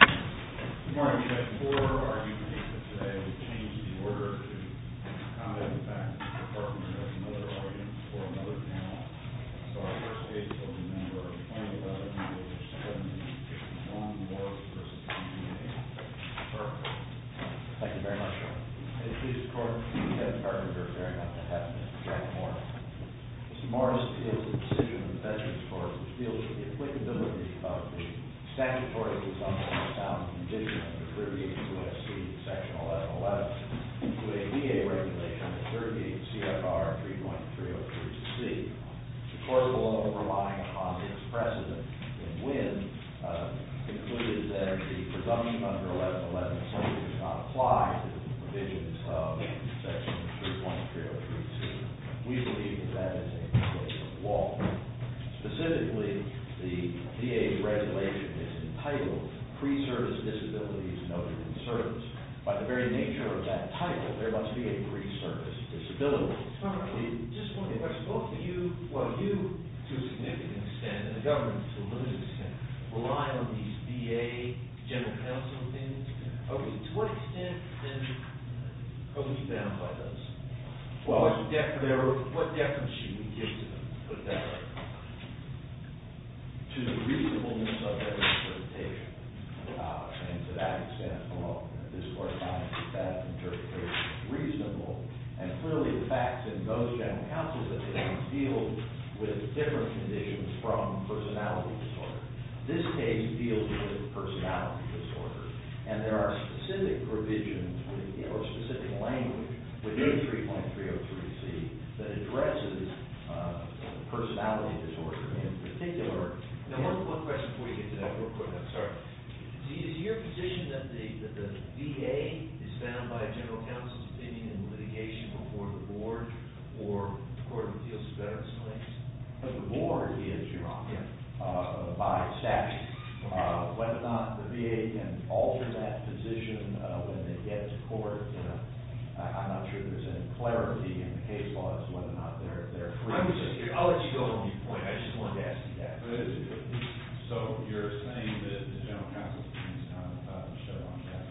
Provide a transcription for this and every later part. Mr. Morris, you had four arguments, but today we've changed the order to combat the fact that your partner has another argument for another panel. So our first case will be a number of 20 of us, and it will just be one Morris v. DVA. Thank you very much. In the case of court, the attorneys are bearing up to half a minute to write more. Mr. Morris deals with the decision of the veterans' courts, which deals with the applicability of the statutory presumption of a sound condition under Peruvian U.S.C. section 1111 to a VA regulation under Peruvian CFR 3.303-C. The court, although relying upon its precedent in Winn, concluded that the presumption under 1111 certainly does not apply to the provisions of section 3.303-C. We believe that that is a case of law. Specifically, the VA regulation is entitled, Pre-Service Disabilities Noted in Service. By the very nature of that title, there must be a pre-service disability. Just one question. You, to a significant extent, and the government, to a limited extent, rely on these VA general counsel things. To what extent, then, are we bound by those? Well, what definition would you give to them to put that right? To the reasonableness of that interpretation. And to that extent, well, this court finds that that interpretation is reasonable. And clearly, the facts in those general counsel cases deal with different conditions from personality disorder. This case deals with personality disorder. And there are specific provisions or specific language within 3.303-C that addresses personality disorder in particular. Now, one question before we get to that real quick. I'm sorry. Is your position that the VA is bound by general counsel's opinion in litigation before the Board or the Court of Appeals is better explained? The Board is, Your Honor, by statute. Whether or not the VA can alter that position when they get to court, I'm not sure there's any clarity in the case law as to whether or not they're free to do that. I'll let you go on your point. I just wanted to ask you that. So you're saying that the general counsel's opinion is not about to show on that?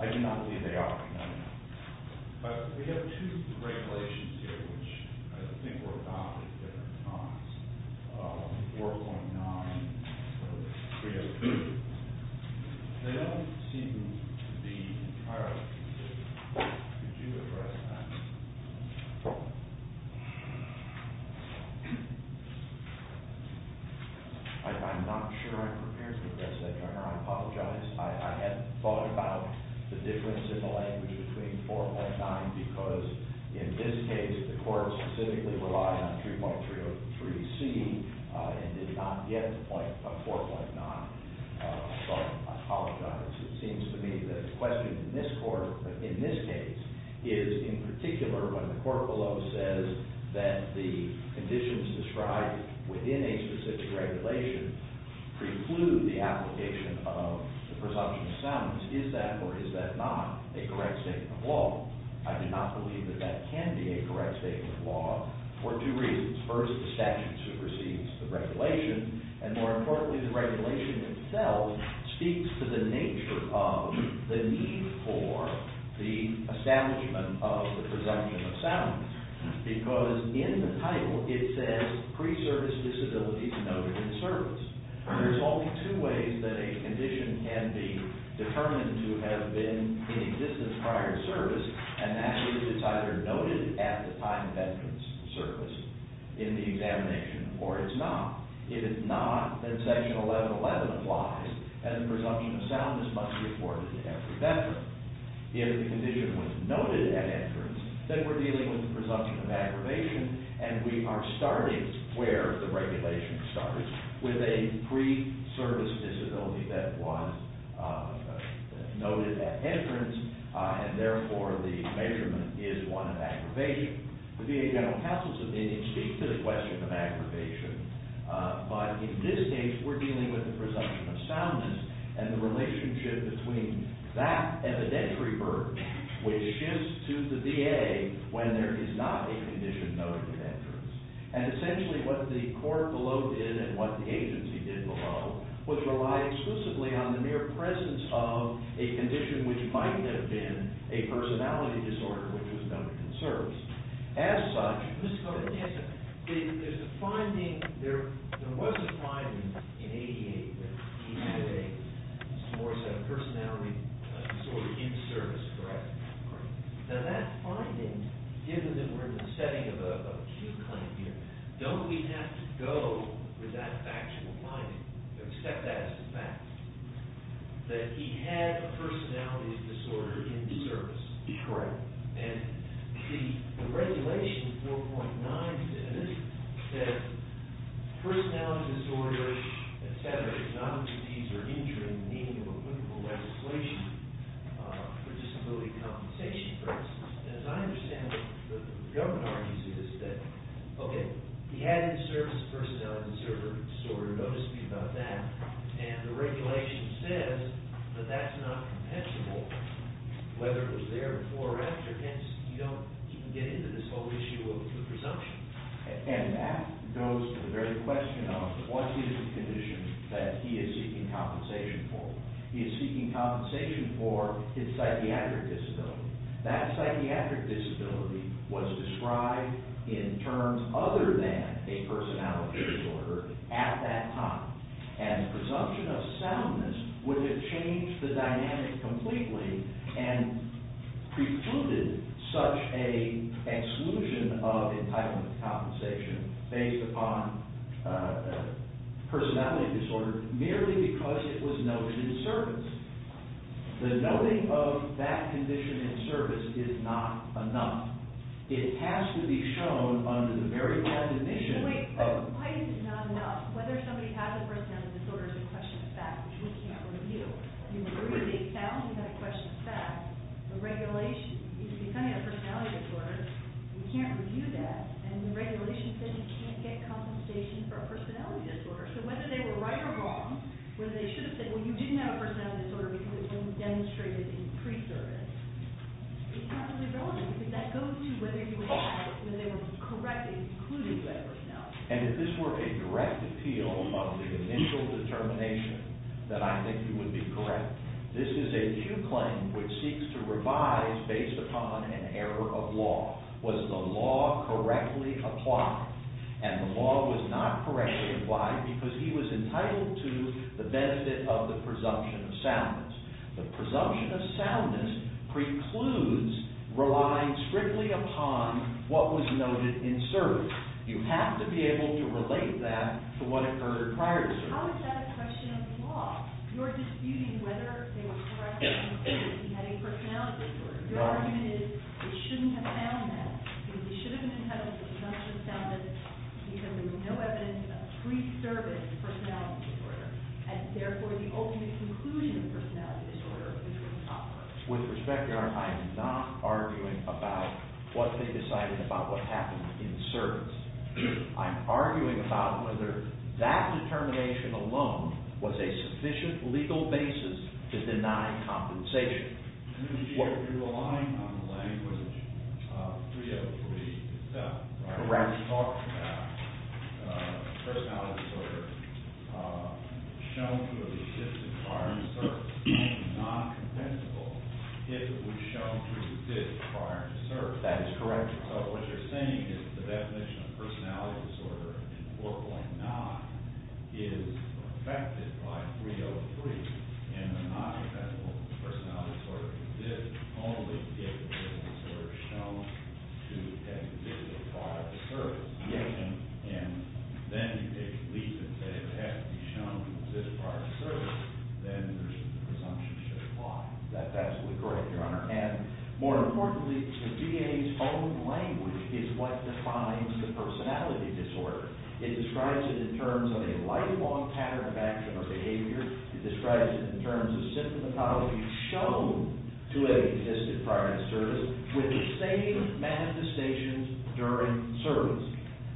I do not believe they are, Your Honor. But we have two regulations here, which I think were adopted at different times, 4.9 and 3.303. They don't seem to be entirely consistent. Could you address that? I'm not sure I'm prepared to address that, Your Honor. I apologize. I hadn't thought about the difference in the language between 4.9 because, in this case, the Court specifically relied on 3.303-C and did not get to 4.9. So I apologize. It seems to me that the question in this case is, in particular, when the court below says that the conditions described within a specific regulation preclude the application of the presumption of silence, is that or is that not a correct statement of law? I do not believe that that can be a correct statement of law for two reasons. First, the statute supersedes the regulation, and more importantly, the regulation itself speaks to the nature of the need for the establishment of the presumption of silence. Because in the title, it says, pre-service disability is noted in service. There's only two ways that a condition can be determined to have been in existence prior to service, and that is it's either noted at the time of entrance to service in the examination or it's not. If it's not, then Section 1111 applies, and the presumption of silence must be afforded to every veteran. If the condition was noted at entrance, then we're dealing with the presumption of aggravation, and we are starting where the regulation starts, with a pre-service disability that was noted at entrance, and therefore the measurement is one of aggravation. The VA general counsel's opinion speaks to the question of aggravation, but in this case, we're dealing with the presumption of silence and the relationship between that evidentiary burden, which shifts to the VA when there is not a condition noted at entrance. And essentially what the court below did, and what the agency did below, was rely exclusively on the mere presence of a condition which might have been a personality disorder, which was noted in service. As such, there was a finding in 88 that he had a personality disorder in service, correct? Now that finding, given that we're in the setting of a new claim here, don't we have to go with that factual finding, accept that as a fact, that he had a personality disorder in service? Correct. And the regulation 4.9 says that personality disorder, et cetera, is not a disease or injury in the meaning of a clinical legislation for disability compensation, for instance. And as I understand it, what the government argues is that, okay, he had it in service, personality disorder, notice me about that, and the regulation says that that's not compensable, whether it was there before or after, hence you don't even get into this whole issue of presumption. And that goes to the very question of what is the condition that he is seeking compensation for? He is seeking compensation for his psychiatric disability. That psychiatric disability was described in terms other than a personality disorder at that time, and the presumption of soundness would have changed the dynamic completely and precluded such an exclusion of entitlement compensation based upon personality disorder merely because it was noted in service. The noting of that condition in service is not enough. It has to be shown under the very definition of- And if this were a direct appeal of the initial determination that I think you would be correct, this is a due claim which seeks to revise based upon an error of law. Was the law correctly applied? And the law was not correctly applied because he was entitled to the benefit of the presumption of soundness. The presumption of soundness precludes relying strictly upon what was noted in service. You have to be able to relate that to what occurred prior to service. How is that a question of the law? You're disputing whether they were correct in that he had a personality disorder. Your argument is he shouldn't have found that. He should have been entitled to the presumption of soundness because there was no evidence of pre-service personality disorder. And therefore, the ultimate conclusion of the personality disorder is that it was not correct. With respect, Your Honor, I am not arguing about what they decided about what happened in service. I'm arguing about whether that determination alone was a sufficient legal basis to deny compensation. You're relying on the language of 303 itself. Correct. It talks about a personality disorder shown to have existed prior to service. It's non-compensable if it was shown to have existed prior to service. That is correct. So what you're saying is the definition of personality disorder in 4.9 is affected by 303. And the non-compensable personality disorder exists only if it is shown to have existed prior to service. Yes. And then you take the leap and say it has to be shown to have existed prior to service. Then the presumption should apply. That's absolutely correct, Your Honor. And more importantly, the DA's own language is what defines the personality disorder. It describes it in terms of a lifelong pattern of action or behavior. It describes it in terms of symptomatology shown to have existed prior to service with the same manifestations during service.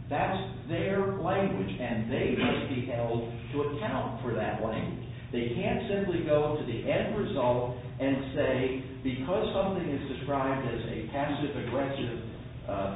That's their language, and they must be held to account for that language. They can't simply go to the end result and say, because something is described as a passive-aggressive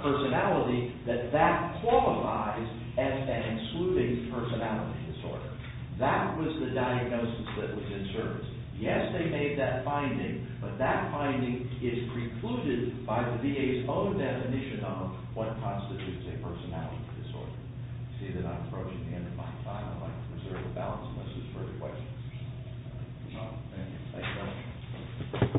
personality, that that qualifies as an excluding personality disorder. That was the diagnosis that was in service. Yes, they made that finding, but that finding is precluded by the DA's own definition of what constitutes a personality disorder. I see that I'm approaching the end of my time. I'd like to reserve the balance unless there's further questions. All right. Thank you. Thank you, Your Honor. Ma'am,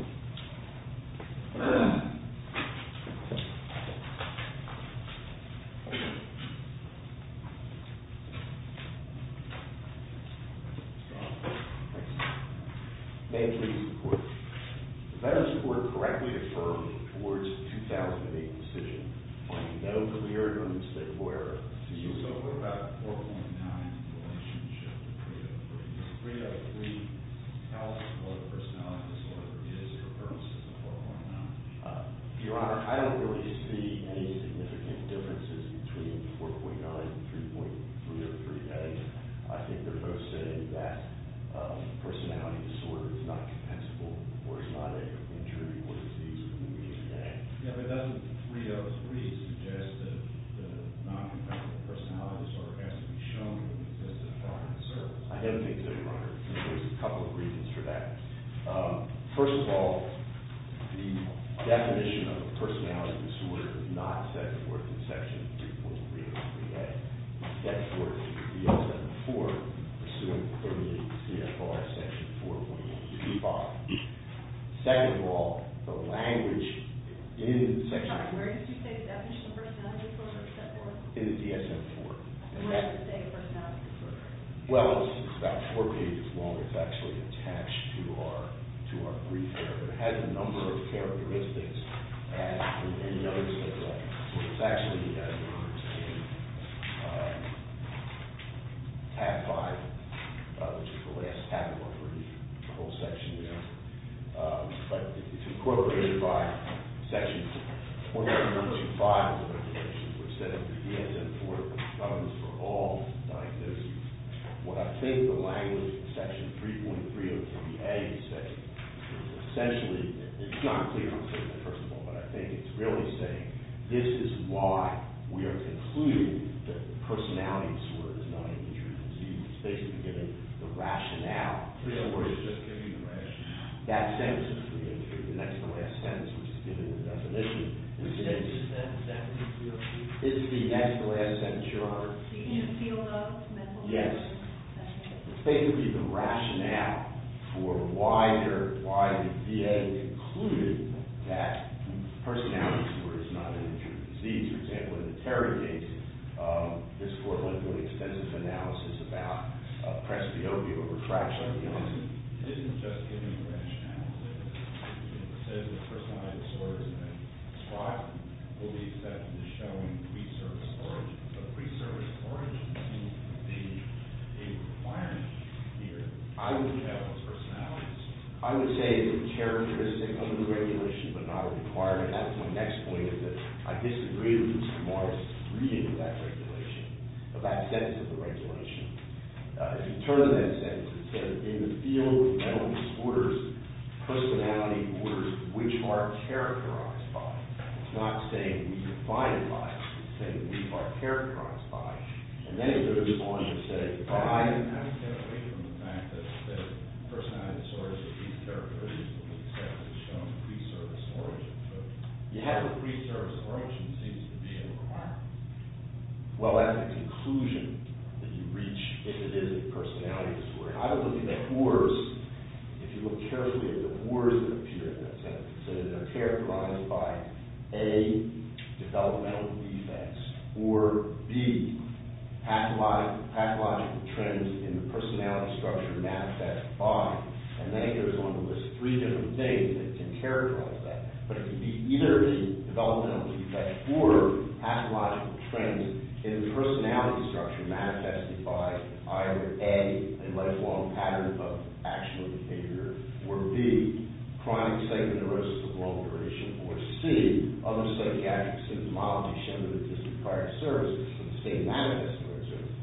please report. The Veterans Court correctly affirmed towards the 2008 decision, finding no clear evidence that were to use over about 4.9, the relationship with 3.03. 3.03 tells what a personality disorder is for purposes of 4.9. Your Honor, I don't really see any significant differences between 4.9 and 3.3 or 3.8. I think they're both saying that a personality disorder is not compensable or is not an injury or disease in 3.3.8. Yeah, but doesn't 3.03 suggest that a non-compensable personality disorder has to be shown to exist at the time of service? I don't think so, Your Honor. There's a couple of reasons for that. First of all, the definition of a personality disorder is not set forth in Section 3.3.3a. It's set forth in the DSM-IV pursuant to the CFR Section 4.125. Second of all, the language in Section 3.3.3. Where did you say the definition of a personality disorder is set forth? In the DSM-IV. And where does it say a personality disorder is? Well, it's about four pages long. It's actually attached to our brief there. It has a number of characteristics. And notice that it's actually in tab 5, which is the last tab of our brief, the whole section there. But it's incorporated by Section 4.125 of the regulations, which said that the DSM-IV was for all diagnosis. Well, I think the language in Section 3.3.3.3a is saying, essentially, it's not clear on paper, first of all, but I think it's really saying this is why we are concluding that a personality disorder is not an intrusion. It's basically given the rationale. Don't worry, it's just given the rationale. That sentence is the next-to-last sentence, which is given in the definition. Yes. It's basically the rationale for why the VA concluded that a personality disorder is not an intrusion. For example, in the Terry case, this court went through an extensive analysis about presbyopia or retraction. It says that a personality disorder is not a fraud. It believes that the showing of pre-service origin seems to be a requirement here. I wouldn't have those personalities. I would say it's a characteristic of the regulation, but not a requirement. That's my next point, is that I disagree with Mr. Morris' reading of that regulation, of that sentence of the regulation. If you turn to that sentence, it says, in the field of mental disorders, personality disorders, which are characterized by. It's not saying we define it by. It's saying we are characterized by. And then it goes on to say by. I disagree with the fact that the personality disorder is a characteristic of pre-service origin. You have a pre-service origin seems to be a requirement. Well, that's the conclusion that you reach if it is a personality disorder. I was looking at whores. If you look carefully at the whores that appear in that sentence, it says they're characterized by, A, developmental defects, or B, pathological trends in the personality structure mapped as by. And then it goes on to list three different things that can characterize that. But it can be either developmental defects or pathological trends in the personality structure manifested by either, A, a lifelong pattern of action or behavior, or B, chronic psychoneurosis of long duration, or C, a most psychiatric symptomatology shown in the district prior to service, or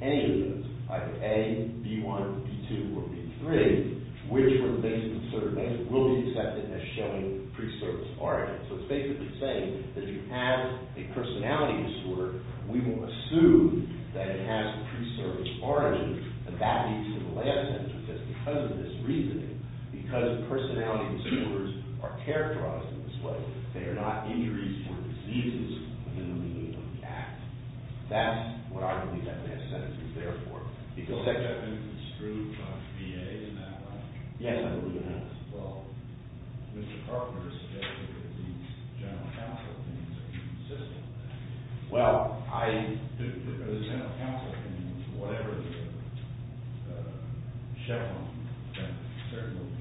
any of those, either A, B1, B2, or B3, which were based in certain ways, will be accepted as showing pre-service origin. So it's basically saying that if you have a personality disorder, we will assume that it has a pre-service origin. And that leads to the last sentence, which is, because of this reasoning, because personality disorders are characterized in this way, they are not injuries or diseases in the meaning of the act. That's what I believe that last sentence is there for. Because actually I've been construed by the VA in that way. Yes, I believe that. Well, Mr. Carpenter suggested that these general counsel opinions are consistent with that. Well, I do think that those general counsel opinions, whatever the chevron, that certainly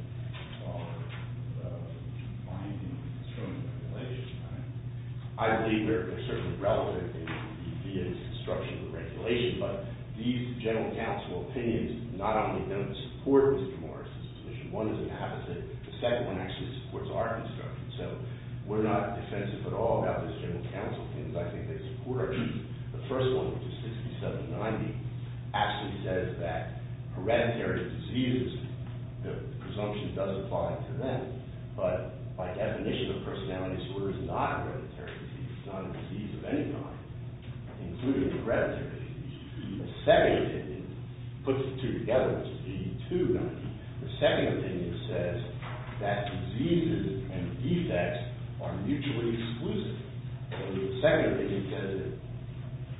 are binding to certain regulations. I believe they're certainly relevant in the VA's instruction and regulation. But these general counsel opinions not only don't support Mr. Morris's submission. One doesn't have it. The second one actually supports our instruction. So we're not defensive at all about these general counsel opinions. I think they support it. The first one, which is 6790, actually says that hereditary diseases, the presumption does apply to them. But by definition, a personality disorder is not a hereditary disease. It's not a disease of any kind, including the hereditary disease. The second opinion puts the two together, which is 8290. The second opinion says that diseases and defects are mutually exclusive. The second opinion says that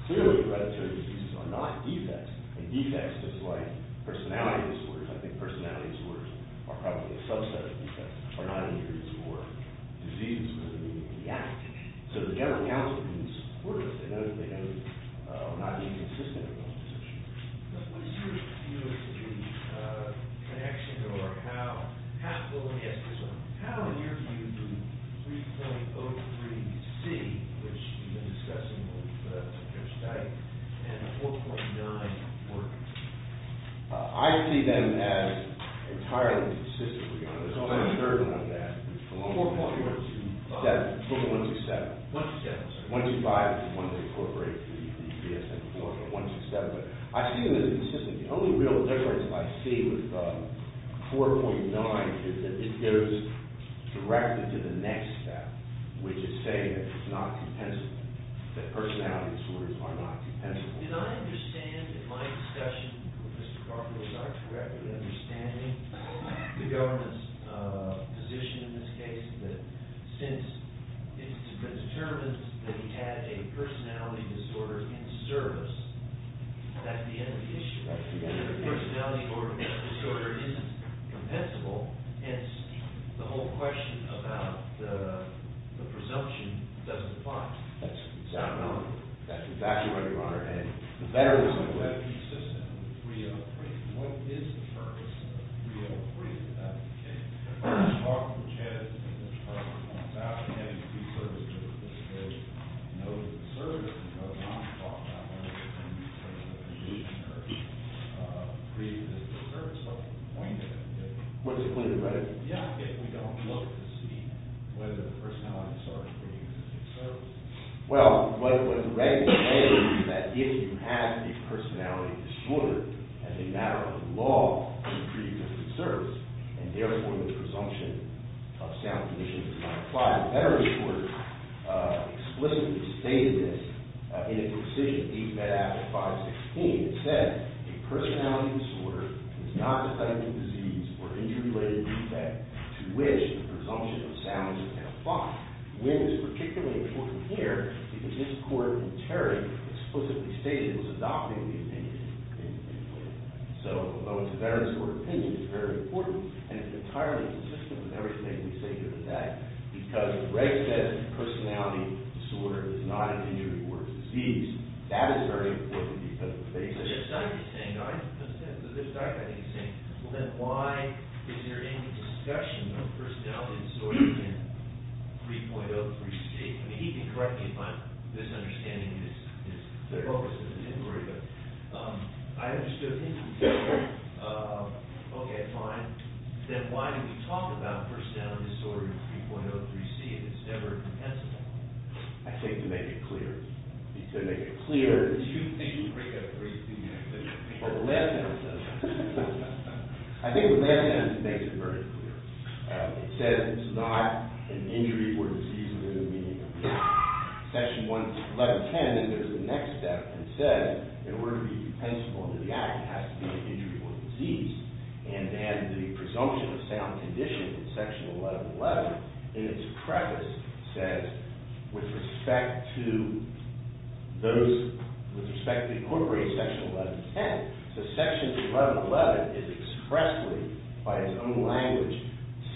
clearly hereditary diseases are not defects. And defects, just like personality disorders, I think personality disorders are probably a subset of defects. They're not injuries or diseases in the act. So the general counsel opinions support it. They know that we're not being consistent with those assumptions. What is your view of the connection or how – well, let me ask this one. How, in your view, do 3.03C, which you've been discussing with Judge Dyke, and 4.9 work? I see them as entirely consistent with each other. There's only a third one on that, which is 4.127. 1.25 is the one that incorporates the DSM-IV, but 1.27. But I see them as consistent. The only real difference I see with 4.9 is that it is directed to the next step, which is saying that it's not compensable, that personality disorders are not compensable. Did I understand in my discussion with Mr. Carpenter, was I correctly understanding the government's position in this case, that since it's determined that he has a personality disorder in service, that's the end of the issue. The personality disorder isn't compensable, hence the whole question about the presumption doesn't apply. That's exactly right, Your Honor. And the better it is on the web, the more consistent with 3.03C. What is the purpose of 3.03C in that case? The talk which has been discussed on Saturday has been service to the disability. No, it's a disservice because it's not talked about. One of the reasons it's a disservice is the point of it. What is the point of it? Yeah, if we don't look to see whether the personality disorder is a disservice. Well, what the record says is that if you have a personality disorder, as a matter of law, you treat it as a disservice, and therefore the presumption of sound condition does not apply. The Veterans Court explicitly stated this in its decision, these met after 5.16. It said, a personality disorder is not a type of disease or injury-related defect to which the presumption of sound does not apply. When it's particularly important here, because this court in Terry explicitly stated it was adopting the opinion. So, although it's a Veterans Court opinion, it's very important, and it's entirely consistent with everything we say here today. Because, as Greg said, a personality disorder is not an injury or a disease. That is very important because of the basis. So, this doctor is saying, well, then why is there any discussion of personality disorders in 3.03c? I mean, he can correct me if my misunderstanding is the focus of his inquiry, but I understood him. Okay, fine. Then why do we talk about personality disorder in 3.03c if it's never compensable? I think to make it clear. He said to make it clear. Do you think you break up 3.03c in your opinion? Well, the last sentence says that. I think the last sentence makes it very clear. It says it's not an injury or disease within the meaning of the act. Section 1110, then there's the next step. It says, in order to be compensable under the act, it has to be an injury or a disease. And then the presumption of sound conditions in Section 1111 in its preface says, with respect to incorporating Section 1110, that Section 1111 is expressly, by its own language,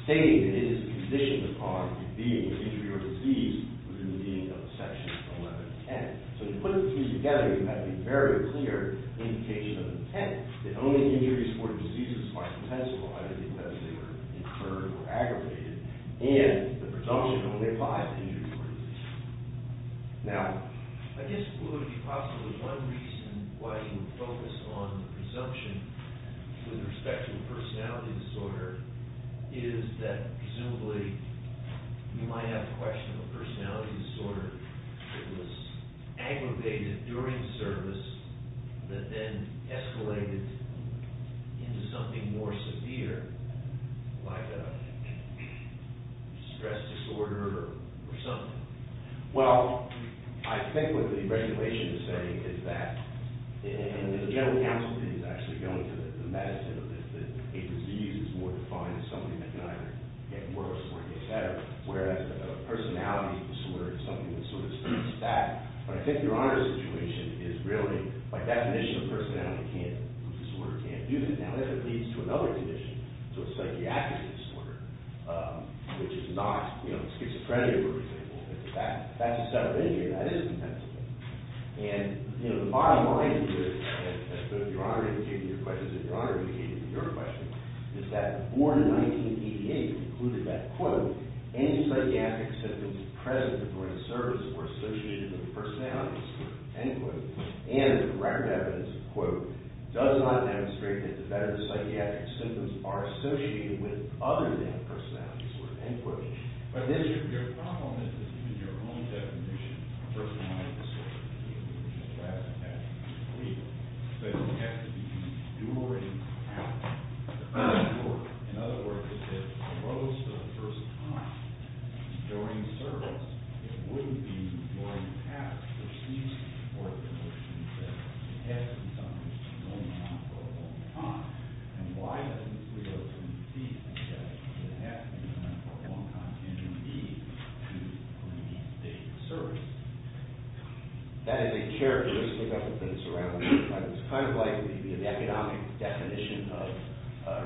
stating that it is conditioned upon being an injury or disease within the meaning of Section 1110. So, to put these together, you have a very clear indication of intent. The only injuries or diseases are compensable, either because they were incurred or aggravated, and the presumption of only five injuries or diseases. Now, I guess it would be possible that one reason why you would focus on the presumption with respect to a personality disorder is that, presumably, you might have a question of a personality disorder that was aggravated during service that then escalated into something more severe, like a stress disorder or something. Well, I think what the regulation is saying is that, and the general counsel is actually going to the medicine of this, that a disease is more defined as something that can either get worse or get better, whereas a personality disorder is something that sort of speaks to that. But I think Your Honor's situation is really, by definition, a personality disorder can't do that. Now, if it leads to another condition, to a psychiatric disorder, which is not schizophrenia, for example, if that's a set of injuries, that is compensable. And, you know, the bottom line here, as Your Honor indicated in your question, is that the board in 1988 concluded that, quote, any psychiatric symptoms present during service were associated with a personality disorder, end quote. And the record evidence, quote, does not demonstrate that the better psychiatric symptoms are associated with other than a personality disorder, end quote. But then your problem is, in your own definition, a personality disorder is a condition that has to happen completely. So it doesn't have to be during practice. In other words, if it arose for the first time during service, it wouldn't be during practice. There seems to be more conviction that it has to be something that's been going on for a long time. And why doesn't this result in the fact that it has to be something that's been going on for a long time, and you need to remediate the state of the service? That is a characteristic of the things surrounding it. It's kind of like the economic definition of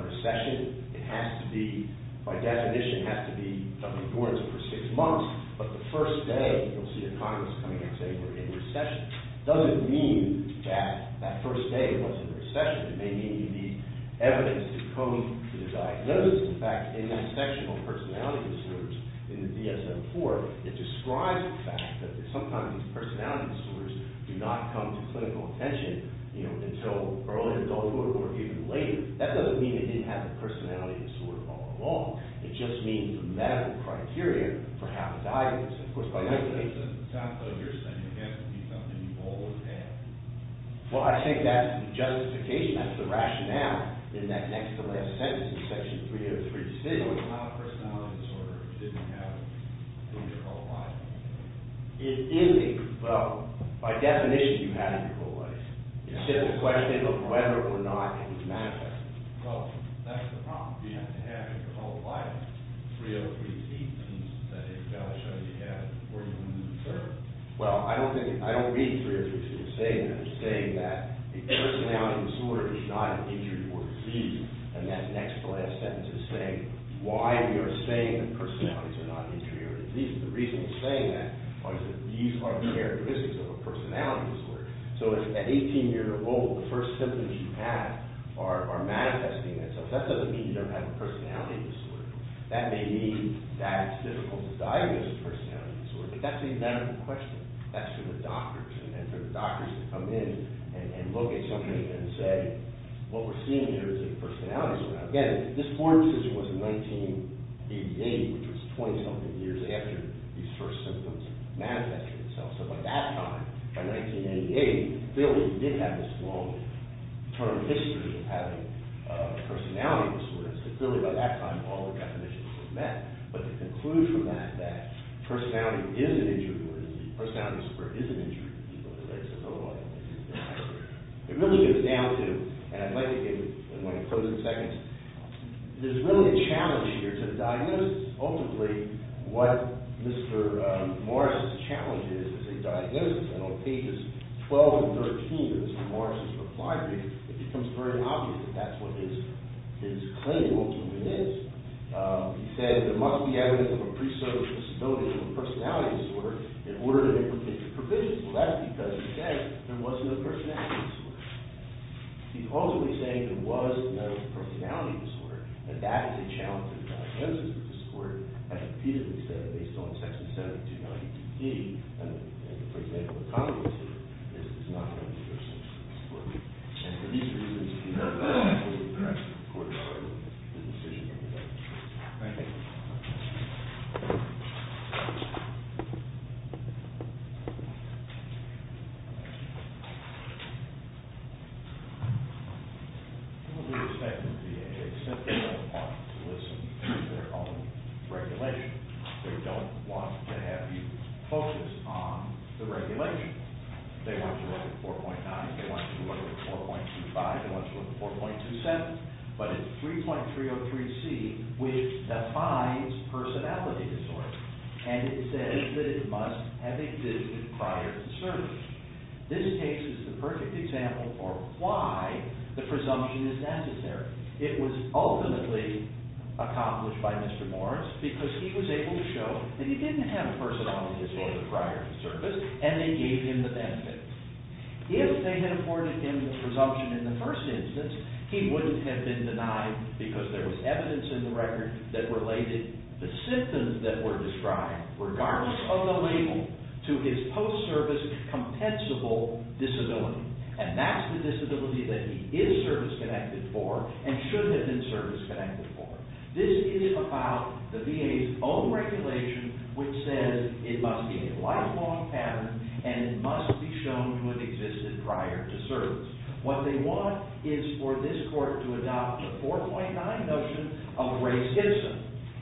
recession. It has to be, by definition, it has to be a recurrence for six months. But the first day, you'll see economists coming and saying we're in recession. It doesn't mean that that first day was a recession. It may mean you need evidence to come to the diagnosis. In fact, in that section on personality disorders in the DSM-IV, it describes the fact that sometimes these personality disorders do not come to clinical attention until early adulthood or even later. That doesn't mean it didn't have a personality disorder all along. It just means a medical criteria for how to diagnose it. Of course, by definition, it has to be something you've always had. Well, I think that's the justification. That's the rationale in that next-to-last sentence in Section 303. So it's not a personality disorder if you didn't have it in your whole life? It is a—well, by definition, you had it your whole life. It's just a question of whether or not it was manifested. Well, that's the problem. You have to have it your whole life. 303C means that it's got to show you have working women in the service. Well, I don't read 303C as saying that. I'm saying that a personality disorder is not an injury or a disease. And that next-to-last sentence is saying why we are saying that personalities are not injuries or diseases. The reason we're saying that is that these are characteristics of a personality disorder. So if at 18 years old, the first symptoms you have are manifesting themselves, that doesn't mean you don't have a personality disorder. That may mean that it's difficult to diagnose a personality disorder. But that's a medical question. That's for the doctors. And for the doctors to come in and look at something and say, what we're seeing here is a personality disorder. Now, again, this foreign decision was in 1988, which was 20-something years after these first symptoms manifested themselves. So by that time, by 1988, clearly you did have this long term history of having a personality disorder. So clearly by that time, all the definitions were met. But to conclude from that, that personality is an injury or a disease, personality disorder is an injury or a disease, it really comes down to, and I'd like to give one closing sentence, there's really a challenge here to diagnose. Ultimately, what Mr. Morris's challenge is, is a diagnosis. And on pages 12 and 13 of Mr. Morris's reply, it becomes very obvious that that's what his claim ultimately is. He said, there must be evidence of a pre-service disability or a personality disorder in order to make a provision. Well, that's because he said there was no personality disorder. He's ultimately saying there was no personality disorder, and that is a challenge to the diagnosis of the disorder. And he repeatedly said, based on section 7 of 292D, for example, a condom disorder, this is not going to be your solution to this disorder. And for these reasons, you have the right to a court order if the decision is made. Thank you. Well, we expect them to be able to accept that they don't want to listen to their own regulation. They don't want to have you focus on the regulation. They want you to look at 4.9. They want you to look at 4.25. They want you to look at 4.27. But it's 3.303C, which defines personality disorder. And it says that it must have existed prior to service. This case is the perfect example for why the presumption is necessary. It was ultimately accomplished by Mr. Morris because he was able to show that he didn't have a personality disorder prior to service, and they gave him the benefits. If they had afforded him the presumption in the first instance, he wouldn't have been denied because there was evidence in the record that related the symptoms that were described, regardless of the label, to his post-service compensable disability. And that's the disability that he is service-connected for and should have been service-connected for. This is about the VA's own regulation, which says it must be a lifelong pattern and it must be shown to have existed prior to service. What they want is for this court to adopt a 4.9 notion of race-citizen.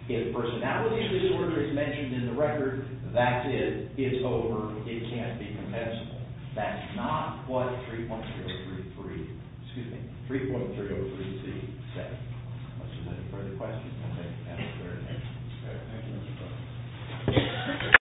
If personality disorder is mentioned in the record, that's it. It's over. It can't be compensable. That's not what 3.303C said. Unless you have any further questions, I'd like to end the hearing. Thank you, Mr. President.